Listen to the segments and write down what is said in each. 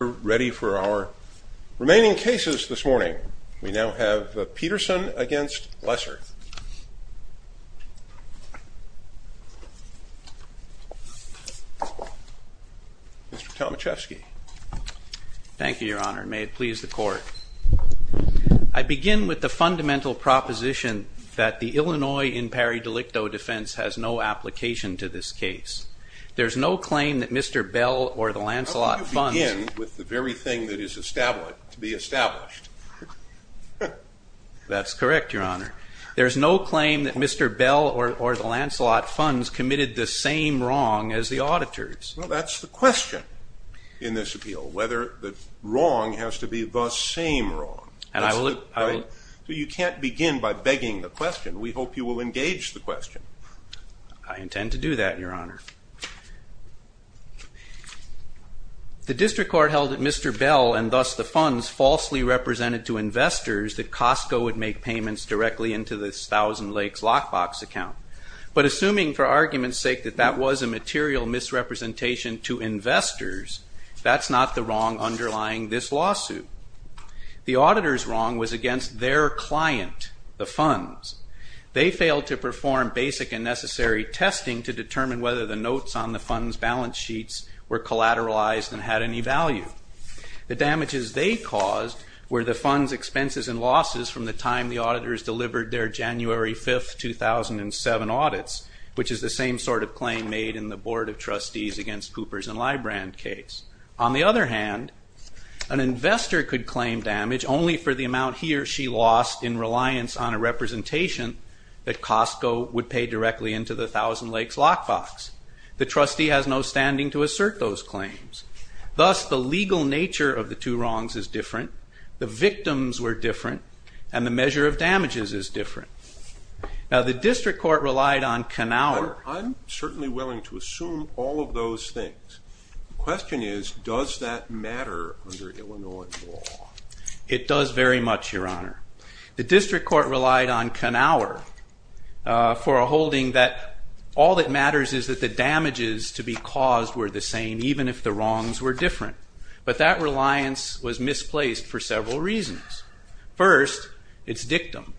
We are now ready for our remaining cases this morning. We now have Peterson v. Lesser. Mr. Tomaszewski. Thank you, Your Honor. May it please the Court. I begin with the fundamental proposition that the Illinois in pari delicto defense has no application to this case. There is no claim that Mr. Bell or the Lancelot funds… How can you begin with the very thing that is to be established? That's correct, Your Honor. There is no claim that Mr. Bell or the Lancelot funds committed the same wrong as the auditors. Well, that's the question in this appeal, whether the wrong has to be the same wrong. And I will… You can't begin by begging the question. We hope you will engage the question. I intend to do that, Your Honor. The district court held that Mr. Bell and thus the funds falsely represented to investors that Costco would make payments directly into the Thousand Lakes lockbox account. But assuming for argument's sake that that was a material misrepresentation to investors, that's not the wrong underlying this lawsuit. The auditor's wrong was against their client, the funds. They failed to perform basic and necessary testing to determine whether the notes on the funds' balance sheets were collateralized and had any value. The damages they caused were the funds' expenses and losses from the time the auditors delivered their January 5, 2007 audits, which is the same sort of claim made in the Board of Trustees against Coopers and Librand case. On the other hand, an investor could claim damage only for the amount he or she lost in reliance on a representation that Costco would pay directly into the Thousand Lakes lockbox. The trustee has no standing to assert those claims. Thus, the legal nature of the two wrongs is different. The victims were different, and the measure of damages is different. Now, the district court relied on… I'm certainly willing to assume all of those things. The question is, does that matter under Illinois law? It does very much, Your Honor. The district court relied on Knauer for a holding that all that matters is that the damages to be caused were the same, even if the wrongs were different. But that reliance was misplaced for several reasons. First, its dictum.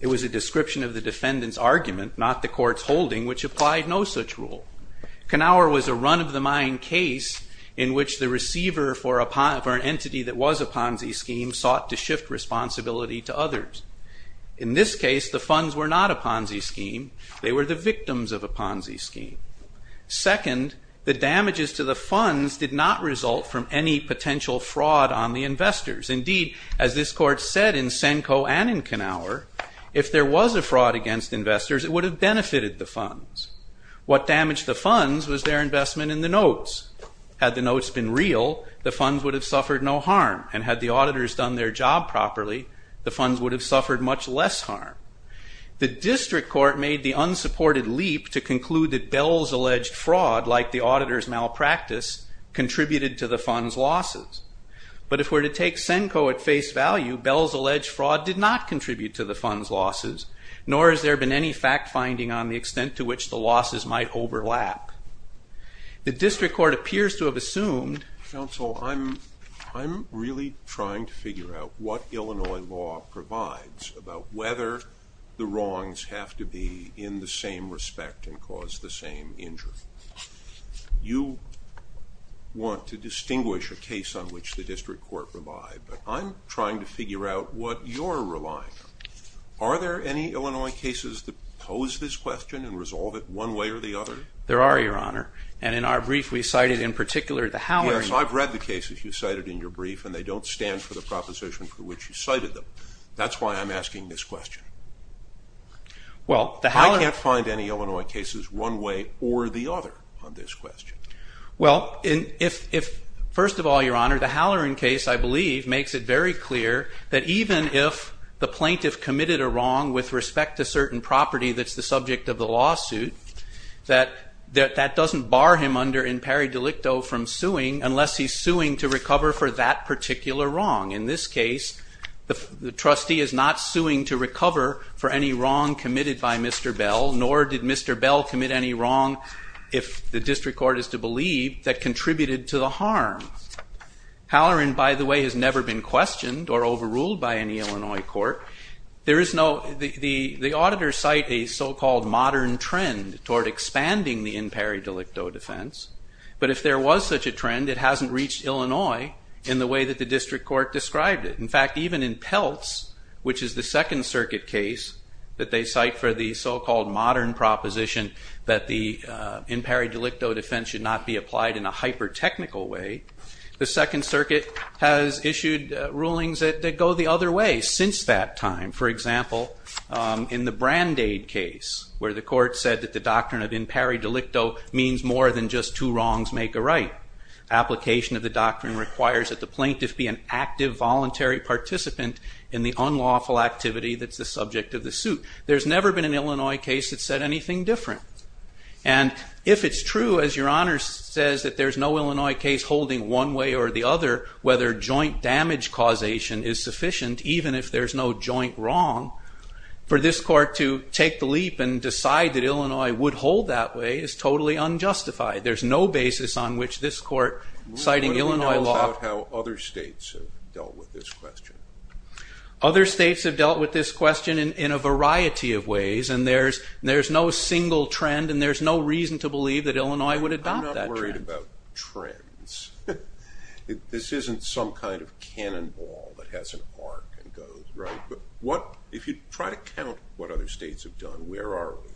It was a description of the defendant's argument, not the court's holding, which applied no such rule. Knauer was a run-of-the-mine case in which the receiver for an entity that was a Ponzi scheme sought to shift responsibility to others. In this case, the funds were not a Ponzi scheme. They were the victims of a Ponzi scheme. Second, the damages to the funds did not result from any potential fraud on the investors. Indeed, as this court said in Senko and in Knauer, if there was a fraud against investors, it would have benefited the funds. What damaged the funds was their investment in the notes. Had the notes been real, the funds would have suffered no harm, and had the auditors done their job properly, the funds would have suffered much less harm. The district court made the unsupported leap to conclude that Bell's alleged fraud, like the auditors' malpractice, contributed to the funds' losses. But if we're to take Senko at face value, Bell's alleged fraud did not contribute to the funds' losses, nor has there been any fact-finding on the extent to which the losses might overlap. The district court appears to have assumed... Counsel, I'm really trying to figure out what Illinois law provides about whether the wrongs have to be in the same respect and cause the same injury. You want to distinguish a case on which the district court relied, but I'm trying to figure out what you're relying on. Are there any Illinois cases that pose this question and resolve it one way or the other? There are, Your Honor, and in our brief we cited in particular the Halloran case. Yes, I've read the cases you cited in your brief, and they don't stand for the proposition for which you cited them. That's why I'm asking this question. I can't find any Illinois cases one way or the other on this question. Well, first of all, Your Honor, the Halloran case, I believe, makes it very clear that even if the plaintiff committed a wrong with respect to certain property that's the subject of the lawsuit, that that doesn't bar him under imperi delicto from suing unless he's suing to recover for that particular wrong. In this case, the trustee is not suing to recover for any wrong committed by Mr. Bell, nor did Mr. Bell commit any wrong, if the district court is to believe, that contributed to the harm. Halloran, by the way, has never been questioned or overruled by any Illinois court. The auditors cite a so-called modern trend toward expanding the imperi delicto defense, but if there was such a trend, it hasn't reached Illinois in the way that the district court described it. In fact, even in Peltz, which is the Second Circuit case that they cite for the so-called modern proposition that the imperi delicto defense should not be applied in a hyper-technical way, the Second Circuit has issued rulings that go the other way since that time. For example, in the Brandade case, where the court said that the doctrine of imperi delicto means more than just two wrongs make a right, application of the doctrine requires that the plaintiff be an active, voluntary participant in the unlawful activity that's the subject of the suit. There's never been an Illinois case that said anything different. And if it's true, as Your Honor says, that there's no Illinois case holding one way or the other whether joint damage causation is sufficient, even if there's no joint wrong, for this court to take the leap and decide that Illinois would hold that way is totally unjustified. There's no basis on which this court citing Illinois law... What do we know about how other states have dealt with this question? Other states have dealt with this question in a variety of ways, and there's no single trend, and there's no reason to believe that Illinois would adopt that trend. I'm not worried about trends. This isn't some kind of cannonball that has an arc and goes, right? If you try to count what other states have done, where are we?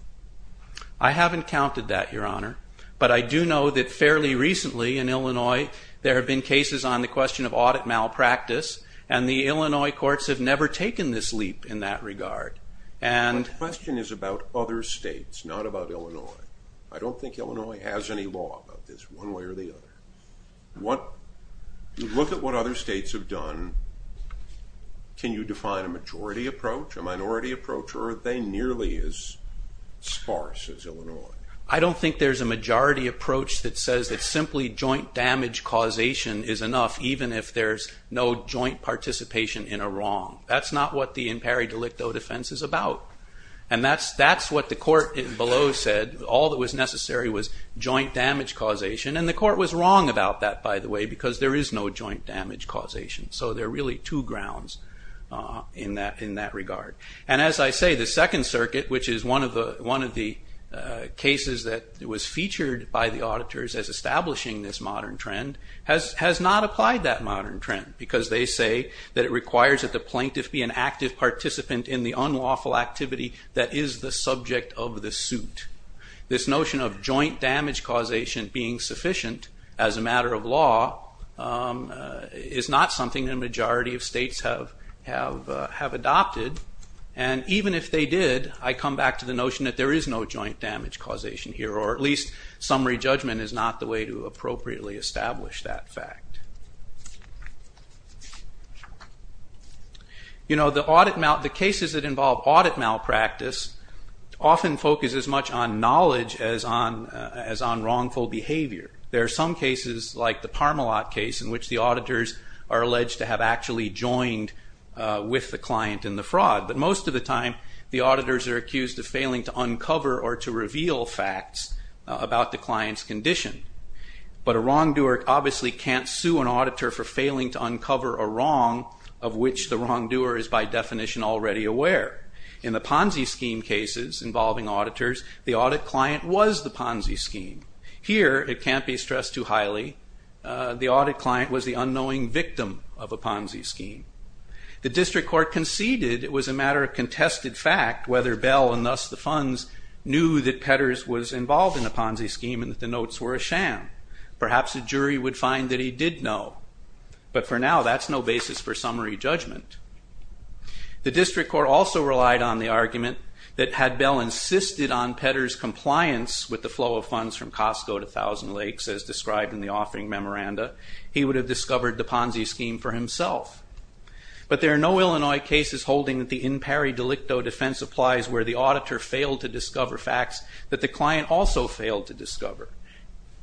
I haven't counted that, Your Honor, but I do know that fairly recently in Illinois there have been cases on the question of audit malpractice, and the Illinois courts have never taken this leap in that regard. My question is about other states, not about Illinois. I don't think Illinois has any law about this one way or the other. Look at what other states have done. Can you define a majority approach, a minority approach, or are they nearly as sparse as Illinois? I don't think there's a majority approach that says that simply joint damage causation is enough even if there's no joint participation in a wrong. That's not what the impari delicto defense is about, and that's what the court below said. All that was necessary was joint damage causation, and the court was wrong about that, by the way, because there is no joint damage causation. There are really two grounds in that regard. As I say, the Second Circuit, which is one of the cases that was featured by the auditors as establishing this modern trend, has not applied that modern trend because they say that it requires that the plaintiff be an active participant in the unlawful activity that is the subject of the suit. This notion of joint damage causation being sufficient as a matter of law is not something that a majority of states have adopted, and even if they did, I come back to the notion that there is no joint damage causation here, or at least summary judgment is not the way to appropriately establish that fact. The cases that involve audit malpractice often focus as much on knowledge as on wrongful behavior. There are some cases, like the Parmalat case, in which the auditors are alleged to have actually joined with the client in the fraud, but most of the time the auditors are accused of failing to uncover or to reveal facts about the client's condition. But a wrongdoer obviously can't sue an auditor for failing to uncover a wrong of which the wrongdoer is by definition already aware. In the Ponzi scheme cases involving auditors, the audit client was the Ponzi scheme. Here it can't be stressed too highly. The audit client was the unknowing victim of a Ponzi scheme. The District Court conceded it was a matter of contested fact whether Bell and thus the funds knew that Petters was involved in the Ponzi scheme and that the notes were a sham. Perhaps a jury would find that he did know, but for now that's no basis for summary judgment. The District Court also relied on the argument that had Bell insisted on Petters' compliance with the flow of funds from Costco to Thousand Lakes, as described in the offering memoranda, he would have discovered the Ponzi scheme for himself. But there are no Illinois cases holding that the in pari delicto defense applies where the auditor failed to discover facts that the client also failed to discover.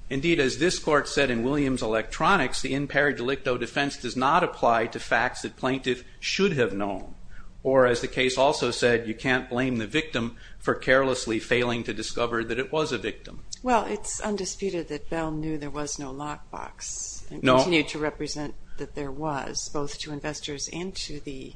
Indeed, as this Court said in Williams Electronics, the in pari delicto defense does not apply to facts that plaintiff should have known, or as the case also said, you can't blame the victim for carelessly failing to discover that it was a victim. Well, it's undisputed that Bell knew there was no lockbox and continued to represent that there was, both to investors and to the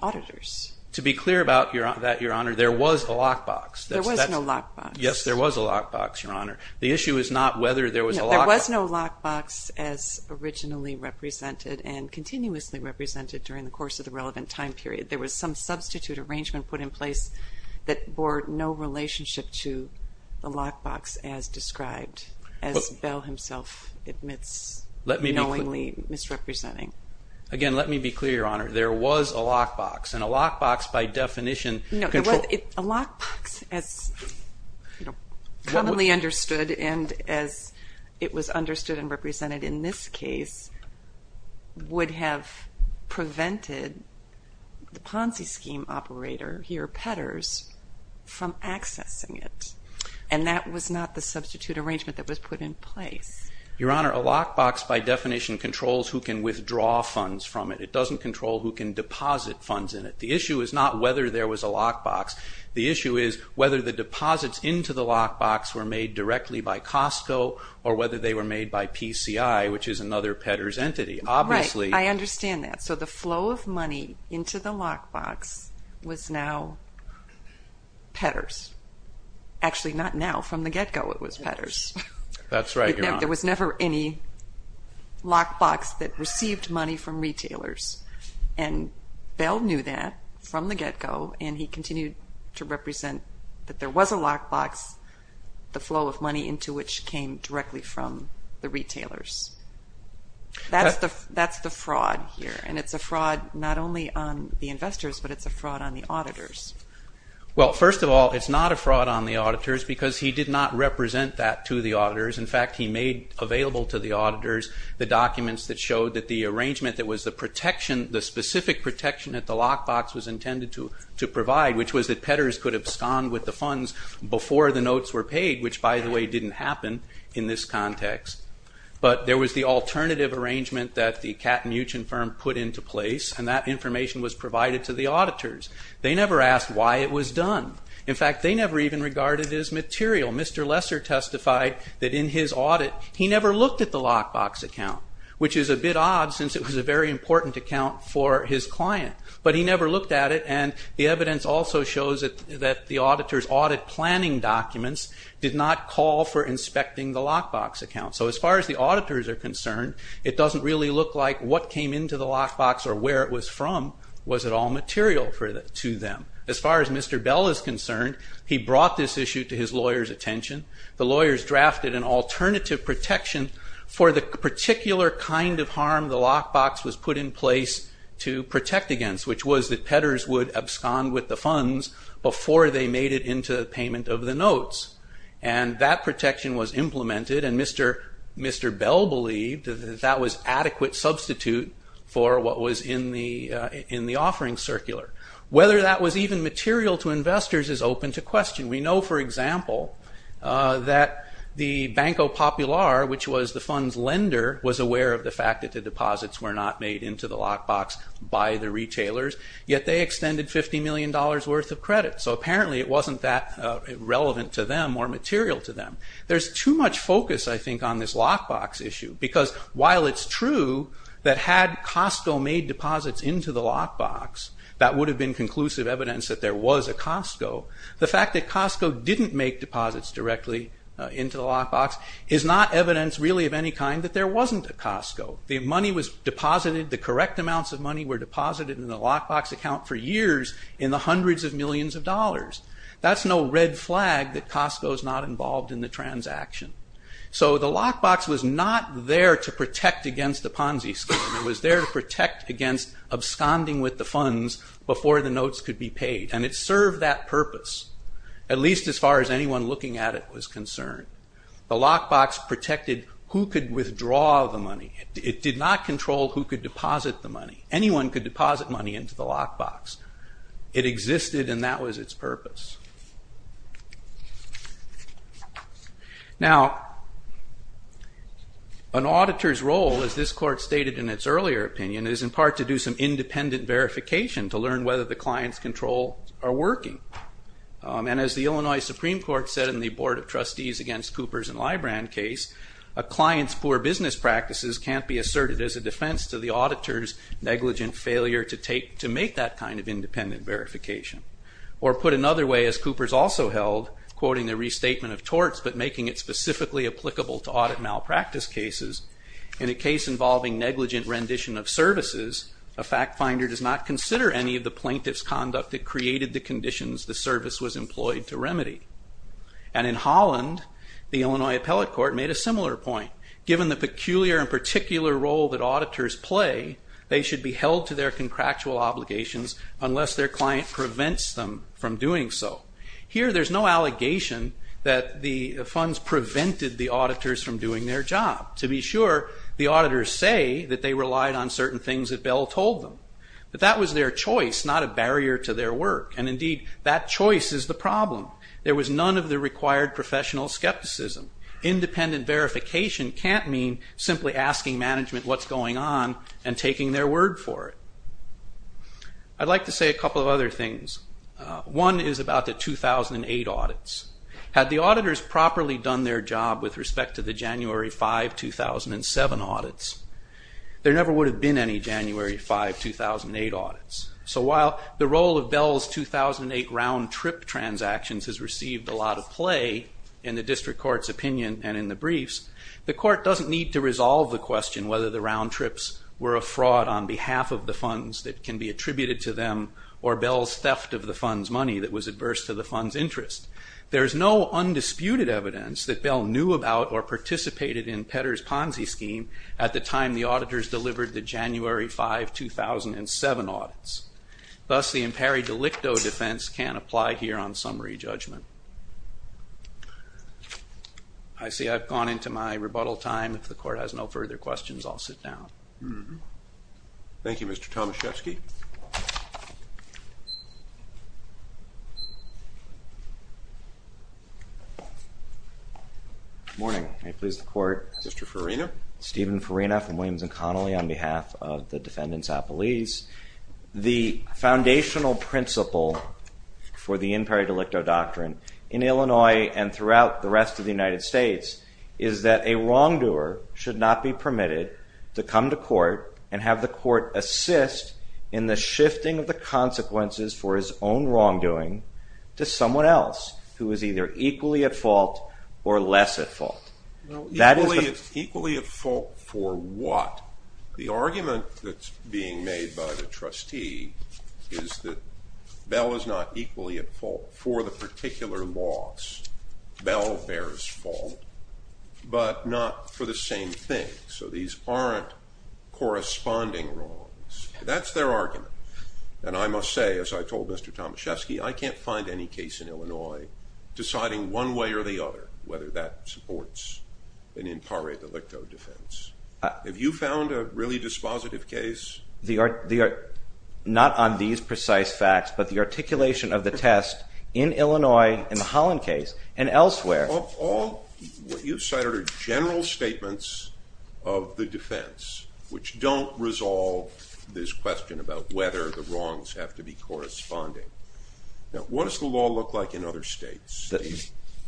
auditors. To be clear about that, Your Honor, there was a lockbox. There was no lockbox. Yes, there was a lockbox, Your Honor. The issue is not whether there was a lockbox. There was no lockbox as originally represented and continuously represented during the course of the relevant time period. There was some substitute arrangement put in place that bore no relationship to the lockbox as described, as Bell himself admits, knowingly misrepresenting. Again, let me be clear, Your Honor. There was a lockbox, and a lockbox by definition controls A lockbox as commonly understood and as it was understood and represented in this case would have prevented the Ponzi scheme operator, here Petters, from accessing it, and that was not the substitute arrangement that was put in place. Your Honor, a lockbox by definition controls who can withdraw funds from it. It doesn't control who can deposit funds in it. The issue is not whether there was a lockbox. The issue is whether the deposits into the lockbox were made directly by Costco or whether they were made by PCI, which is another Petters entity. Right, I understand that. So the flow of money into the lockbox was now Petters. Actually, not now. From the get-go, it was Petters. That's right, Your Honor. There was never any lockbox that received money from retailers, and Bell knew that from the get-go, and he continued to represent that there was a lockbox, the flow of money into which came directly from the retailers. That's the fraud here, and it's a fraud not only on the investors, but it's a fraud on the auditors. Well, first of all, it's not a fraud on the auditors because he did not represent that to the auditors. In fact, he made available to the auditors the documents that showed that the arrangement that was the protection, the specific protection that the lockbox was intended to provide, which was that Petters could abscond with the funds before the notes were paid, which, by the way, didn't happen in this context. But there was the alternative arrangement that the Cat Muchen firm put into place, and that information was provided to the auditors. They never asked why it was done. In fact, they never even regarded it as material. Mr. Lesser testified that in his audit, he never looked at the lockbox account, which is a bit odd since it was a very important account for his client. But he never looked at it, and the evidence also shows that the auditors' audit planning documents did not call for inspecting the lockbox account. So as far as the auditors are concerned, it doesn't really look like what came into the lockbox or where it was from was at all material to them. As far as Mr. Bell is concerned, he brought this issue to his lawyer's attention. The lawyers drafted an alternative protection for the particular kind of harm the lockbox was put in place to protect against, which was that Petters would abscond with the funds before they made it into the payment of the notes. And that protection was implemented, and Mr. Bell believed that that was adequate substitute for what was in the offering circular. Whether that was even material to investors is open to question. We know, for example, that the Banco Popular, which was the fund's lender, was aware of the fact that the deposits were not made into the lockbox by the retailers, yet they extended $50 million worth of credit. So apparently it wasn't that relevant to them or material to them. There's too much focus, I think, on this lockbox issue, because while it's true that had Costco made deposits into the lockbox, that would have been conclusive evidence that there was a Costco, the fact that Costco didn't make deposits directly into the lockbox is not evidence, really, of any kind that there wasn't a Costco. The money was deposited, the correct amounts of money were deposited in the lockbox account for years in the hundreds of millions of dollars. That's no red flag that Costco's not involved in the transaction. So the lockbox was not there to protect against the Ponzi scheme. It was there to protect against absconding with the funds before the notes could be paid, and it served that purpose, at least as far as anyone looking at it was concerned. The lockbox protected who could withdraw the money. It did not control who could deposit the money. Anyone could deposit money into the lockbox. It existed, and that was its purpose. Now, an auditor's role, as this court stated in its earlier opinion, is in part to do some independent verification to learn whether the client's controls are working. And as the Illinois Supreme Court said in the Board of Trustees against Coopers and Librand case, a client's poor business practices can't be asserted as a defense to the auditor's negligent failure to make that kind of independent verification, or put another way, as Coopers also held, quoting the restatement of torts but making it specifically applicable to audit malpractice cases, in a case involving negligent rendition of services, a fact finder does not consider any of the plaintiff's conduct that created the conditions the service was employed to remedy. And in Holland, the Illinois Appellate Court made a similar point. Given the peculiar and particular role that auditors play, they should be held to their contractual obligations unless their client prevents them from doing so. Here, there's no allegation that the funds prevented the auditors from doing their job. To be sure, the auditors say that they relied on certain things that Bell told them. But that was their choice, not a barrier to their work. And indeed, that choice is the problem. There was none of the required professional skepticism. Independent verification can't mean simply asking management what's going on and taking their word for it. I'd like to say a couple of other things. One is about the 2008 audits. Had the auditors properly done their job with respect to the January 5, 2007 audits, there never would have been any January 5, 2008 audits. So while the role of Bell's 2008 round-trip transactions has received a lot of play in the district court's opinion and in the briefs, the court doesn't need to resolve the question whether the round trips were a fraud on behalf of the funds that can be attributed to them or Bell's theft of the fund's money that was adverse to the fund's interest. There's no undisputed evidence that Bell knew about or participated in Petter's Ponzi scheme at the time the auditors delivered the January 5, 2007 audits. Thus, the impari delicto defense can't apply here on summary judgment. I see I've gone into my rebuttal time. If the court has no further questions, I'll sit down. Thank you, Mr. Tomaszewski. Good morning. May it please the court. Mr. Farina. Stephen Farina from Williams & Connolly on behalf of the defendants' appellees. The foundational principle for the impari delicto doctrine in Illinois and throughout the rest of the United States is that a wrongdoer should not be permitted to come to court and have the court assist in the shifting of the consequences for his own wrongdoing to someone else who is either equally at fault or less at fault. Equally at fault for what? The argument that's being made by the trustee is that Bell is not equally at fault for the particular loss. Bell bears fault, but not for the same thing. So these aren't corresponding wrongs. That's their argument. And I must say, as I told Mr. Tomaszewski, I can't find any case in Illinois deciding one way or the other whether that supports an impari delicto defense. Have you found a really dispositive case? Not on these precise facts, but the articulation of the test in Illinois, in the Holland case, and elsewhere. What you've cited are general statements of the defense which don't resolve this question about whether the wrongs have to be corresponding. Now, what does the law look like in other states?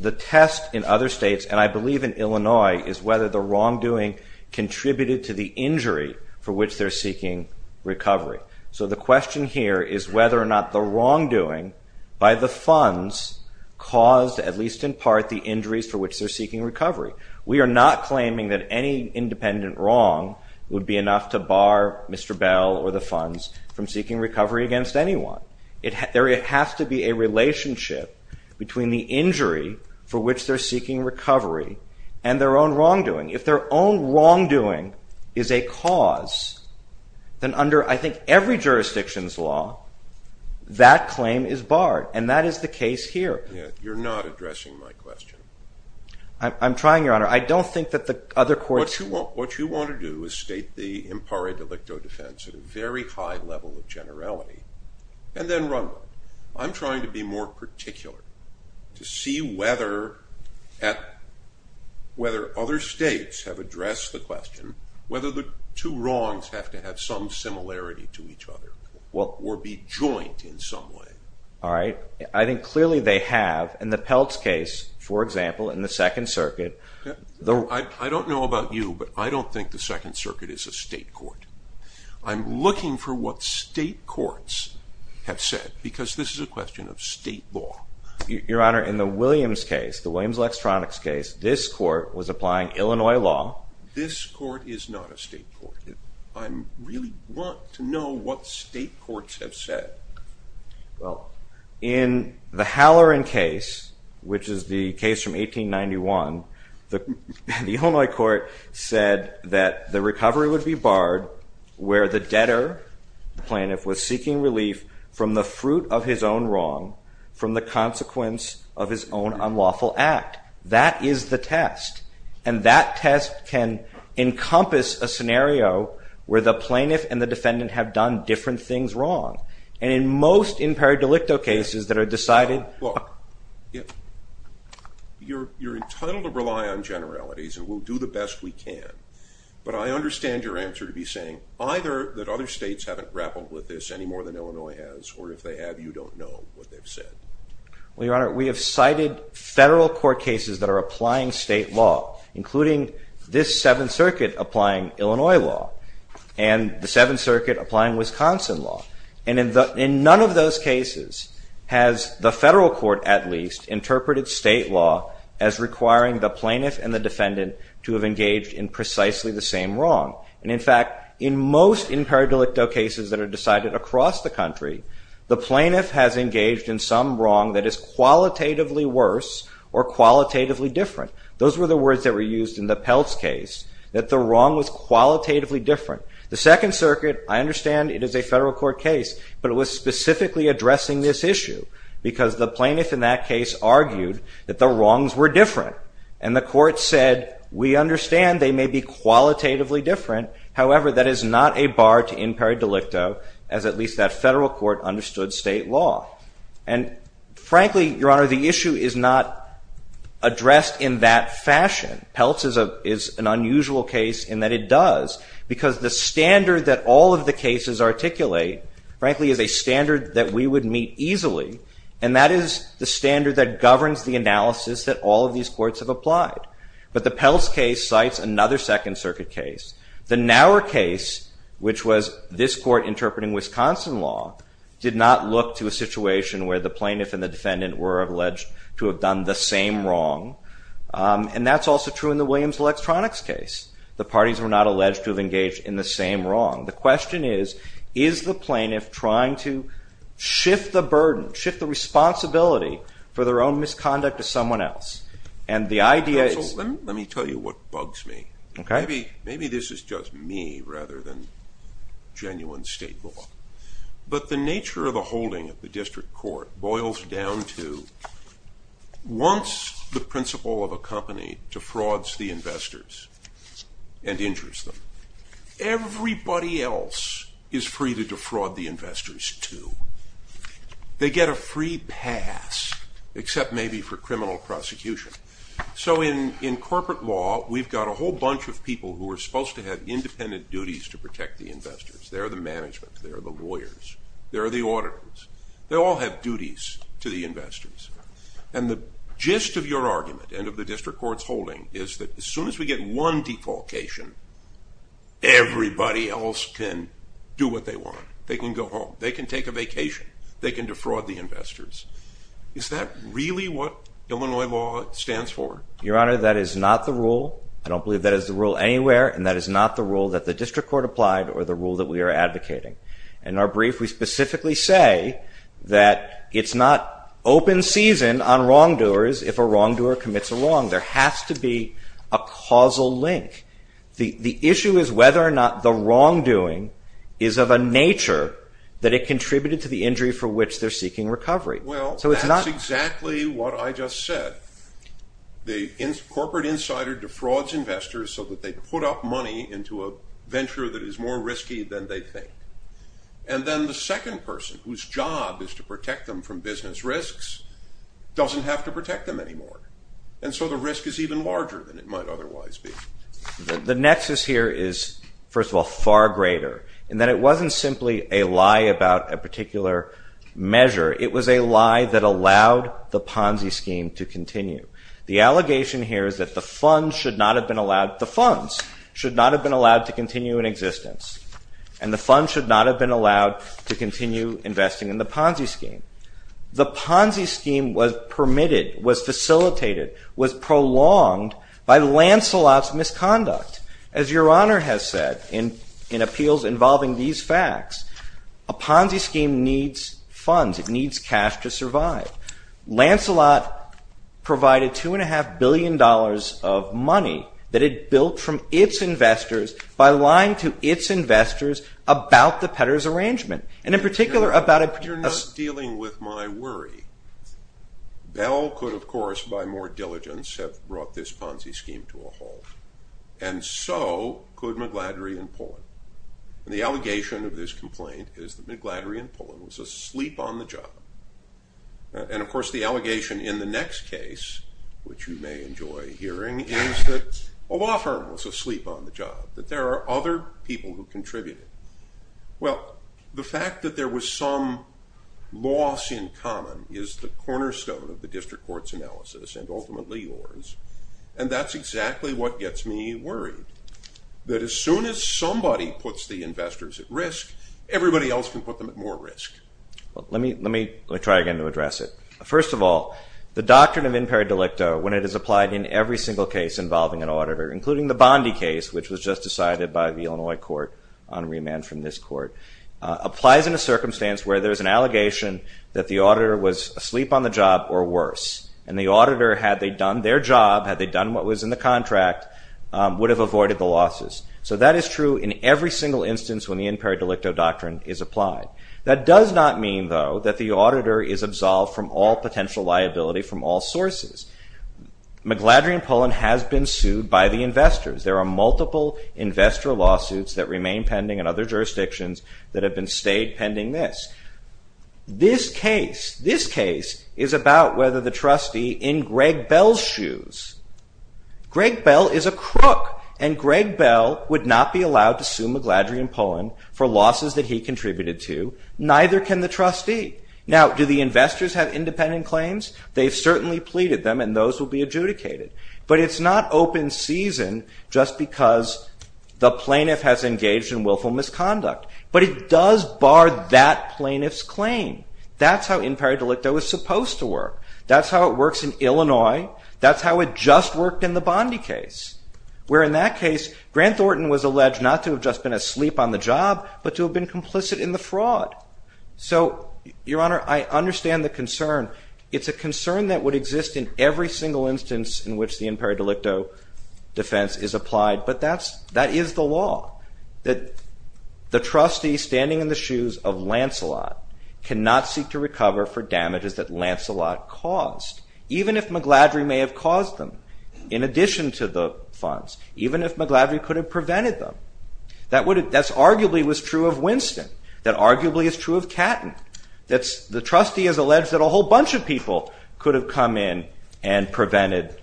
The test in other states, and I believe in Illinois, is whether the wrongdoing contributed to the injury for which they're seeking recovery. So the question here is whether or not the wrongdoing by the funds caused, at least in part, the injuries for which they're seeking recovery. We are not claiming that any independent wrong would be enough to bar Mr. Bell or the funds from seeking recovery against anyone. There has to be a relationship between the injury for which they're seeking recovery and their own wrongdoing. If their own wrongdoing is a cause, then under, I think, every jurisdiction's law, that claim is barred, and that is the case here. You're not addressing my question. I'm trying, Your Honor. I don't think that the other courts... What you want to do is state the impare delicto defense at a very high level of generality, and then run with it. I'm trying to be more particular, to see whether other states have addressed the question, whether the two wrongs have to have some similarity to each other, or be joint in some way. All right. I think clearly they have. In the Peltz case, for example, in the Second Circuit... I don't know about you, but I don't think the Second Circuit is a state court. I'm looking for what state courts have said, because this is a question of state law. Your Honor, in the Williams case, the Williams-Lextronix case, this court was applying Illinois law... This court is not a state court. I really want to know what state courts have said. Well, in the Halloran case, which is the case from 1891, the Illinois court said that the recovery would be barred where the debtor, the plaintiff, was seeking relief from the fruit of his own wrong, from the consequence of his own unlawful act. That is the test. And that test can encompass a scenario where the plaintiff and the defendant have done different things wrong. And in most impaired delicto cases that are decided... Look, you're entitled to rely on generalities, and we'll do the best we can, but I understand your answer to be saying either that other states haven't grappled with this any more than Illinois has, or if they have, you don't know what they've said. Your Honor, we have cited federal court cases that are applying state law, including this Seventh Circuit applying Illinois law, and the Seventh Circuit applying Wisconsin law. And in none of those cases has the federal court, at least, interpreted state law as requiring the plaintiff and the defendant to have engaged in precisely the same wrong. And in fact, in most impaired delicto cases that are decided across the country, the plaintiff has engaged in some wrong that is qualitatively worse or qualitatively different. Those were the words that were used in the Peltz case, that the wrong was qualitatively different. The Second Circuit, I understand it is a federal court case, but it was specifically addressing this issue because the plaintiff in that case argued that the wrongs were different. And the court said, we understand they may be qualitatively different. However, that is not a bar to impaired delicto as at least that federal court understood state law. And frankly, Your Honor, the issue is not addressed in that fashion. Peltz is an unusual case in that it does because the standard that all of the cases articulate, frankly, is a standard that we would meet easily. And that is the standard that governs the analysis that all of these courts have applied. But the Peltz case cites another Second Circuit case. The Naur case, which was this court interpreting Wisconsin law, did not look to a situation where the plaintiff and the defendant were alleged to have done the same wrong. And that's also true in the Williams-Lextronix case. The parties were not alleged to have engaged in the same wrong. The question is, is the plaintiff trying to shift the burden, shift the responsibility for their own misconduct to someone else? And the idea is... Counsel, let me tell you what bugs me. Maybe this is just me rather than genuine state law. But the nature of the holding of the district court boils down to once the principal of a company defrauds the investors and injures them, everybody else is free to defraud the investors too. They get a free pass, except maybe for criminal prosecution. So in corporate law, we've got a whole bunch of people who are supposed to have independent duties to protect the investors. They're the management. They're the lawyers. They're the auditors. They all have duties to the investors. And the gist of your argument and of the district court's holding is that as soon as we get one defaulcation, everybody else can do what they want. They can go home. They can take a vacation. They can defraud the investors. Is that really what Illinois law stands for? Your Honor, that is not the rule. I don't believe that is the rule anywhere. And that is not the rule that the district court applied or the rule that we are advocating. In our brief, we specifically say that it's not open season on wrongdoers if a wrongdoer commits a wrong. There has to be a causal link. The issue is whether or not the wrongdoing is of a nature that it contributed to the injury for which they're seeking recovery. Well, that's exactly what I just said. The corporate insider defrauds investors so that they put up money into a venture that is more risky than they think. And then the second person whose job is to protect them from business risks doesn't have to protect them anymore. And so the risk is even larger than it might otherwise be. The nexus here is, first of all, far greater in that it wasn't simply a lie about a particular measure. It was a lie that allowed the Ponzi scheme to continue. The allegation here is that the funds should not have been allowed, the funds should not have been allowed to continue in existence. And the funds should not have been allowed to continue investing in the Ponzi scheme. The Ponzi scheme was permitted, was facilitated, was prolonged by Lancelot's misconduct. As Your Honor has said in appeals involving these facts, a Ponzi scheme needs funds, it needs cash to survive. Lancelot provided two and a half billion dollars of money that it built from its investors by lying to its investors about the Petters arrangement. And in particular about a particular You're not dealing with my worry. Bell could, of course, by more diligence have brought this Ponzi scheme to a halt. And so could Magladry and Pullen. The allegation of this complaint is that Magladry and Pullen was asleep on the job. And of course the allegation in the next case, which you may enjoy hearing, is that O'Rourke was asleep on the job, that there are other people who contributed. Well, the fact that there was some loss in common is the cornerstone of the district court's analysis and ultimately yours. And that's exactly what gets me worried. That as soon as somebody puts the investors at risk, everybody else at more risk. Let me try again to address it. First of all, the doctrine of imper delicto when it is applied in every single case involving an auditor, including the Bondi case, which was just decided by the Illinois court on remand from this court, applies in a circumstance where there is an allegation that the auditor was asleep on the job or worse. And the auditor, had they done their job, had they done what was in the contract, would have avoided the losses. So that is true in every single instance when the imper delicto doctrine is applied. That does not mean, though, that the auditor is absolved from all potential liability from all sources. Magladry and Pullen has been sued by the investors. There are multiple investor lawsuits that remain pending in other jurisdictions that have been stayed pending this. This case, this case, is about whether the trustee in Greg Bell's shoes. Greg Bell is a crook and Greg Bell would not be allowed to sue Magladry and Pullen for losses that he contributed to. Neither can the trustee. Now, do the investors have independent claims? They have certainly pleaded them and those will be adjudicated. But it's not open season just because the plaintiff has engaged in willful misconduct. But it does bar that plaintiff's claim. That's how imper delicto is supposed to work. That's how it works in Illinois. That's how it just worked in the Bondi case. Where in that case, Grant Thornton was alleged not to have just been asleep on the job but to have been complicit in the fraud. So, Your Honor, I understand the concern. It's a concern that would exist in every single instance in which the imper delicto defense is applied. But that is the law. That the trustee standing in the shoes of Lancelot cannot seek to recover for damages that Lancelot caused. Even if Magladry may have caused them funds. Even if Magladry could have prevented them. That arguably was true of Winston. That arguably is true of Catton. The trustee has alleged that a whole bunch of people could have come in and prevented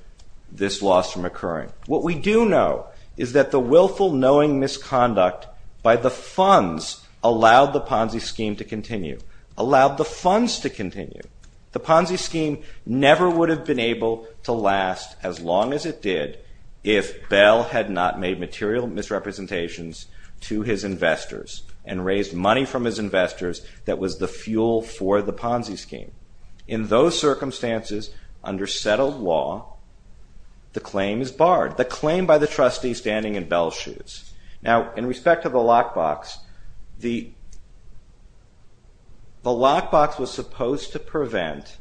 this loss from occurring. What we do know is that the willful knowing misconduct by the funds allowed the Ponzi scheme to continue. Allowed the funds to continue. The Ponzi scheme never would have been able to last as long as it did if Bell had not made material misrepresentations to his investors and raised money from his investors that was the fuel for the Ponzi scheme. In those circumstances under settled law the claim is barred. The claim by the trustee standing in Bell's shoes. Now in respect to the lockbox the the lockbox was supposed to prevent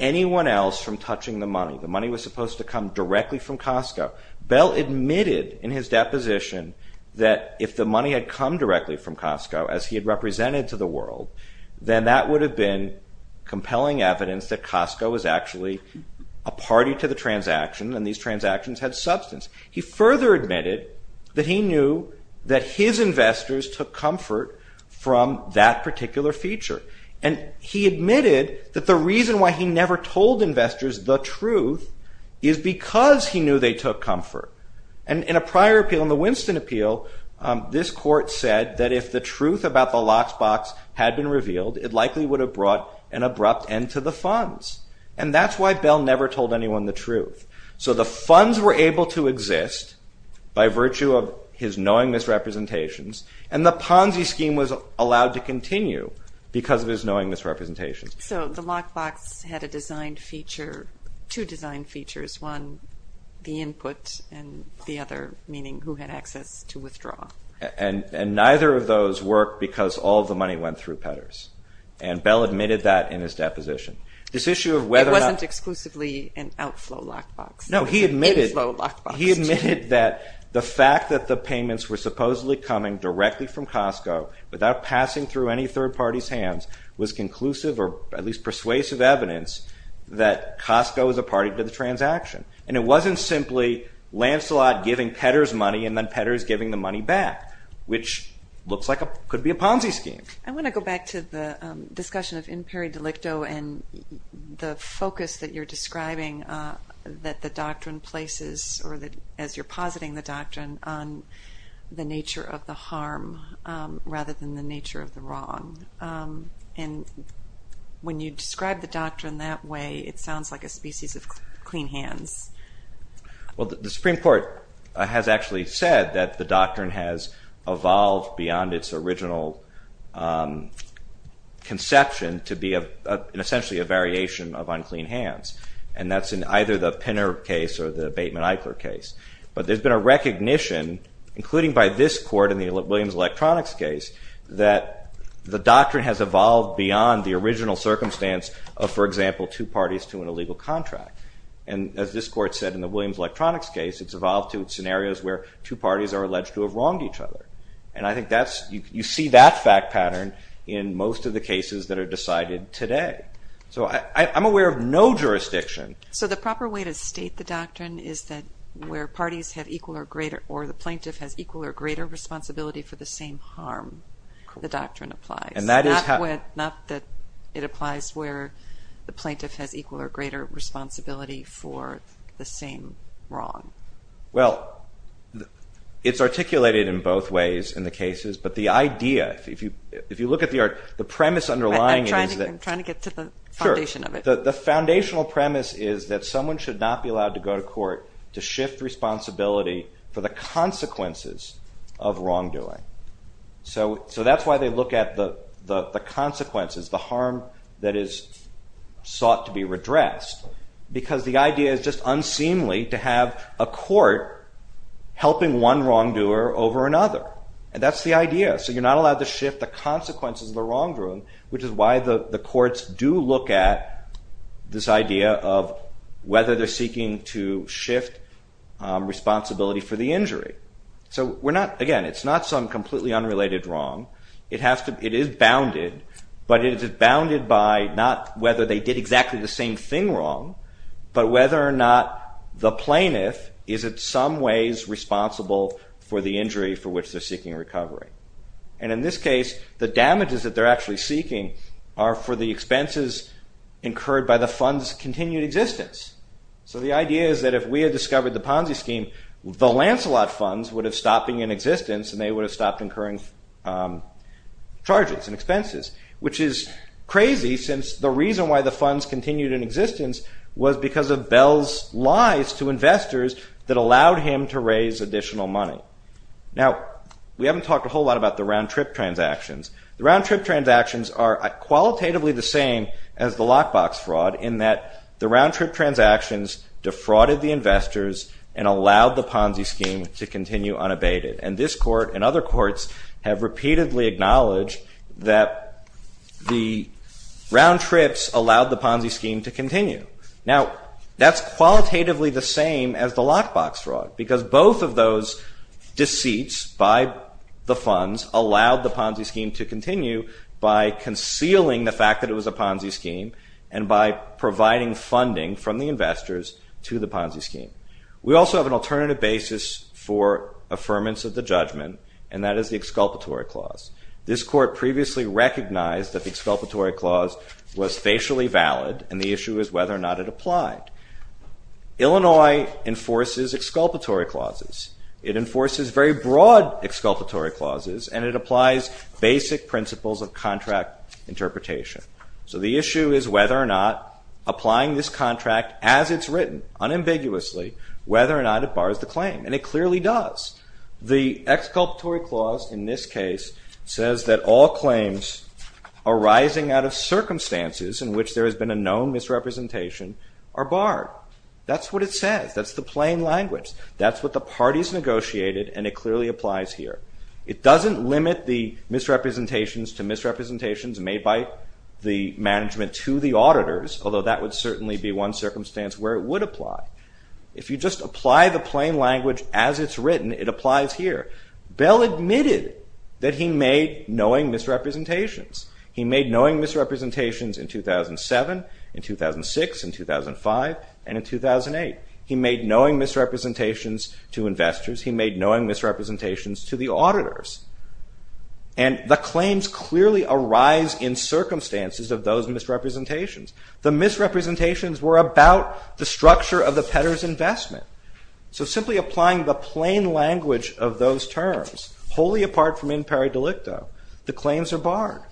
anyone else from touching the money. The money was supposed to come directly from Costco. Bell admitted in his deposition that if the money had come directly from Costco as he had represented to the world then that would have been compelling evidence that Costco was actually a party to the transaction and these transactions had substance. He further admitted that he knew that his investors took comfort from that particular feature. And he admitted that the reason why he never told investors the truth is because he knew they took comfort. And in a prior appeal in the Winston appeal this court said that if the truth about the lockbox had been revealed it likely would have brought an abrupt end to the funds. And that's why Bell never told anyone the truth. So the funds were able to exist by virtue of his knowing misrepresentations and the Ponzi scheme was allowed to continue because of his knowing misrepresentations. So the lockbox had a designed feature two design features one the input and the other meaning who had access to withdraw. And neither of those worked because all of the money went through Petters. And Bell admitted that in his deposition. It wasn't exclusively an outflow lockbox. He admitted that the fact that all of the payments were supposedly coming directly from Costco without passing through any third party's hands was conclusive or at least persuasive evidence that Costco was a party to the transaction. And it wasn't simply Lancelot giving Petters money and then Petters giving the money back which looks like could be a Ponzi scheme. I want to go back to the discussion of imperi delicto and the focus that you're describing that the doctrine places or as you're positing the doctrine on the nature of the harm rather than the nature of the wrong. And when you describe the doctrine that way it sounds like a species of clean hands. Well the Supreme Court has actually said that the doctrine has evolved beyond its original conception to be essentially a variation of unclean hands. And that's in either the Pinner case or the Bateman-Eichler case. But there's been a recognition including by this court in the Williams Electronics case that the doctrine has evolved beyond the original circumstance of for example two parties to an illegal contract. And as this court said in the Williams Electronics case it's evolved to scenarios where two parties have equal or greater responsibility for the same harm. The doctrine applies. Not that it applies where the plaintiff has equal or greater wrong. Well it's articulated in both ways in the cases but the idea if you look at the premise underlying it is that the plaintiff has equal responsibility for the consequences of wrongdoing. So that's why they look at the consequences, the harm that is sought to be redressed because the idea is just unseemly to have a court helping one wrongdoer over another. And that's the idea. So you're not allowed to shift the consequences of the wrongdoing which is why the courts do look at this idea of whether they're seeking to shift responsibility for the injury. So again, it's not some completely unrelated wrong. It is bounded but it is bounded by not whether they did exactly the same thing wrong but whether or not the plaintiff is in some ways responsible for the expenses incurred by the funds' continued existence. So the idea is that if we had discovered the Ponzi scheme, the Lancelot funds would have stopped incurring charges and expenses. Which is crazy since the reason why the funds continued in existence was because of Bell's lies to investors that allowed him to raise additional money. Now, we haven't talked a whole lot about the round-trip transactions. The round-trip transactions are qualitatively the same as the lock-box fraud in that the round-trip transactions defrauded the investors and allowed the Ponzi scheme to continue unabated. And this court and other courts have repeatedly acknowledged that the round-trips allowed the Ponzi scheme to continue. Now, that's qualitatively the same as the lock-box fraud because both of those deceits by the funds allowed the Ponzi scheme to continue by concealing the fact that it was a Ponzi scheme and by providing funding from the investors to the Ponzi scheme. We also have an alternative basis for scheme. The Ponzi scheme is officially valid and the issue is whether or not it applied. Illinois enforces exculpatory clauses. It enforces very broad exculpatory clauses and it applies basic principles of contract interpretation. So the issue is whether or not applying this contract as it's written unambiguously, whether or not it bars the claim. And it clearly does. The exculpatory clause in this case says that all claims arising out of circumstances in which there has been a known misrepresentation are barred. That's what it says. That's the plain language. That's what the plain language says. If you just apply the plain language as it's written, it applies here. Bell admitted that he made knowing misrepresentations. He made knowing misrepresentations in 2007, in 2006, in 2005, and in 2008. He made knowing misrepresentations to investors. He made knowing misrepresentations to the auditors. And the claims clearly arise in circumstances of those misrepresentations. The misrepresentations were about the structure of the Petter's investment. So simply applying the plain language of those terms, wholly apart from imperi delicto, the claims are barred.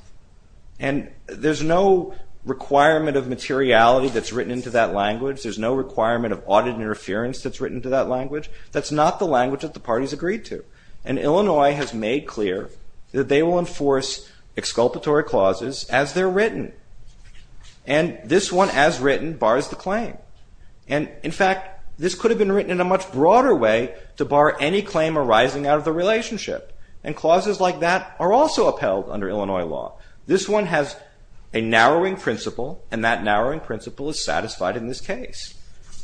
And there's no requirement of materiality that's written into that language. There's no requirement of audit interference that's written into that language. That's not the language that the parties agreed to. And Illinois has made clear that they will enforce exculpatory clauses as they're written. And this one as written bars the claim. And in fact, Illinois has a narrowing principle, and that narrowing principle is satisfied in this case.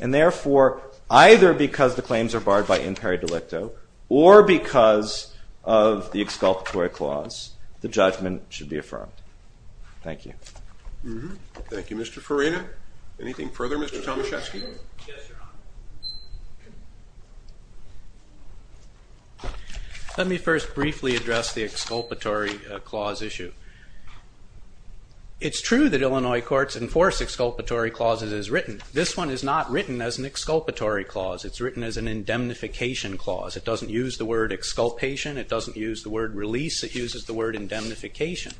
And therefore, either because the claims are barred by imperi delicto, or because of the exculpatory clause, the judgment should be affirmed. Thank you. Thank you, Mr. Farina. Anything further, Mr. Tomaszewski? Yes, Your Honor. Let me first briefly address the exculpatory clause issue. It's true that Illinois courts enforce exculpatory clauses as written. This one is not written as an exculpatory clause. It's written as an indemnification clause. It doesn't use the word exculpation. It doesn't use the word release. It uses the word indemnification.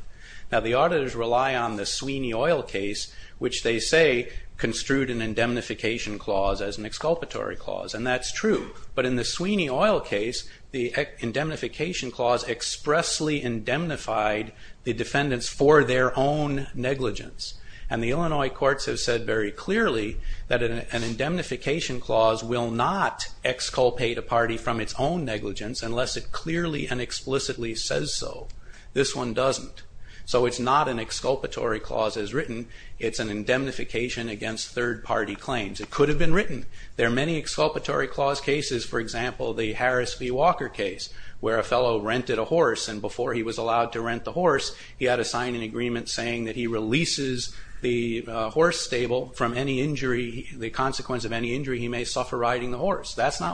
Now, the auditors rely on the Sweeney Oil case, which they say construed an indemnification clause as an exculpatory clause. And that's true. But in the Sweeney Oil case, the indemnification clause expressly indemnified the defendants for their own negligence. And the Illinois courts have said very clearly that an indemnification clause will not exculpate a party from its own negligence unless it clearly and explicitly says so. This one doesn't. So it's not an exculpatory clause as written. It's an indemnification against third-party claims. It could have been written. There are many exculpatory clause cases. For example, the Harris v. Walker case where a fellow rented a horse and before he was allowed to rent the horse he had to sign an saying he releases the horse stable from any injury. That's not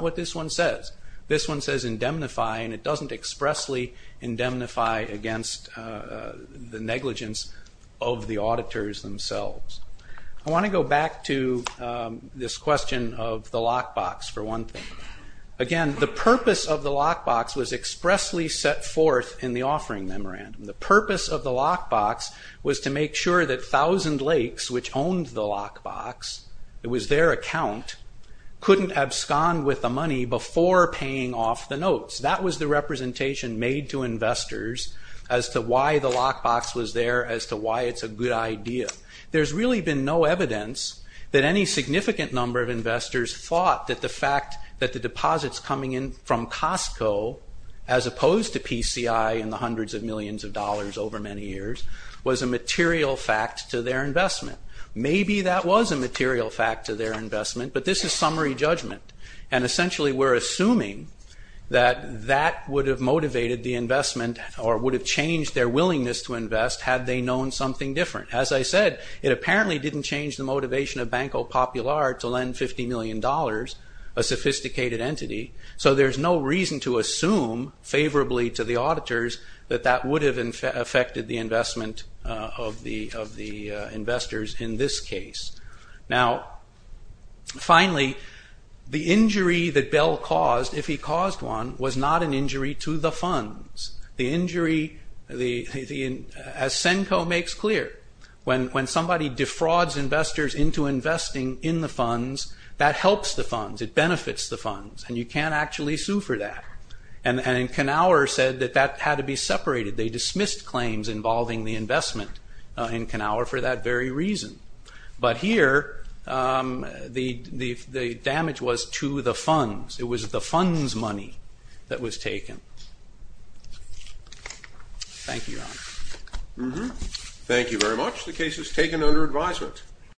what this one says. This one says indemnify and it doesn't expressly indemnify against the negligence of the auditors themselves. I want to go back to this question of the lock box for one thing. Again, the purpose of the lock box was expressly set forth in the offering memorandum. The purpose of the lock box was to make sure that Thousand Lakes, which owned the lock box, it was their account, couldn't abscond with the money before paying off the notes. That was the representation made to investors as to why the lock box was there, as to why it's a good idea. There's really been no evidence that any significant number of investors thought that the fact that the deposits coming in from Costco, as opposed to PCI and the hundreds of millions of dollars over many years, was a material fact to their investment. Maybe that was a material fact to their investment, but this is summary judgment, and essentially we're assuming that that would have motivated the investment or would have changed their willingness to invest had they known something different. As I said, it apparently didn't change the motivation of Banco Popular to lend $50 million, a sophisticated entity, so there's no reason to assume favorably to the auditors that that would have affected the investment of the investors in this case. Now, finally, the injury that Bell caused, if he caused one, was not an injury to the funds. The injury, as Senko makes clear, when somebody defrauds investors into investing in the funds, that helps the funds, it benefits the funds, and you can't actually sue for that, and Knauer said that that had to be separated. They dismissed claims involving the investment in Knauer for that very reason, but here the damage was to the funds. It was the funds money that was taken. Thank you, Ron. Thank you very much. The case is taken under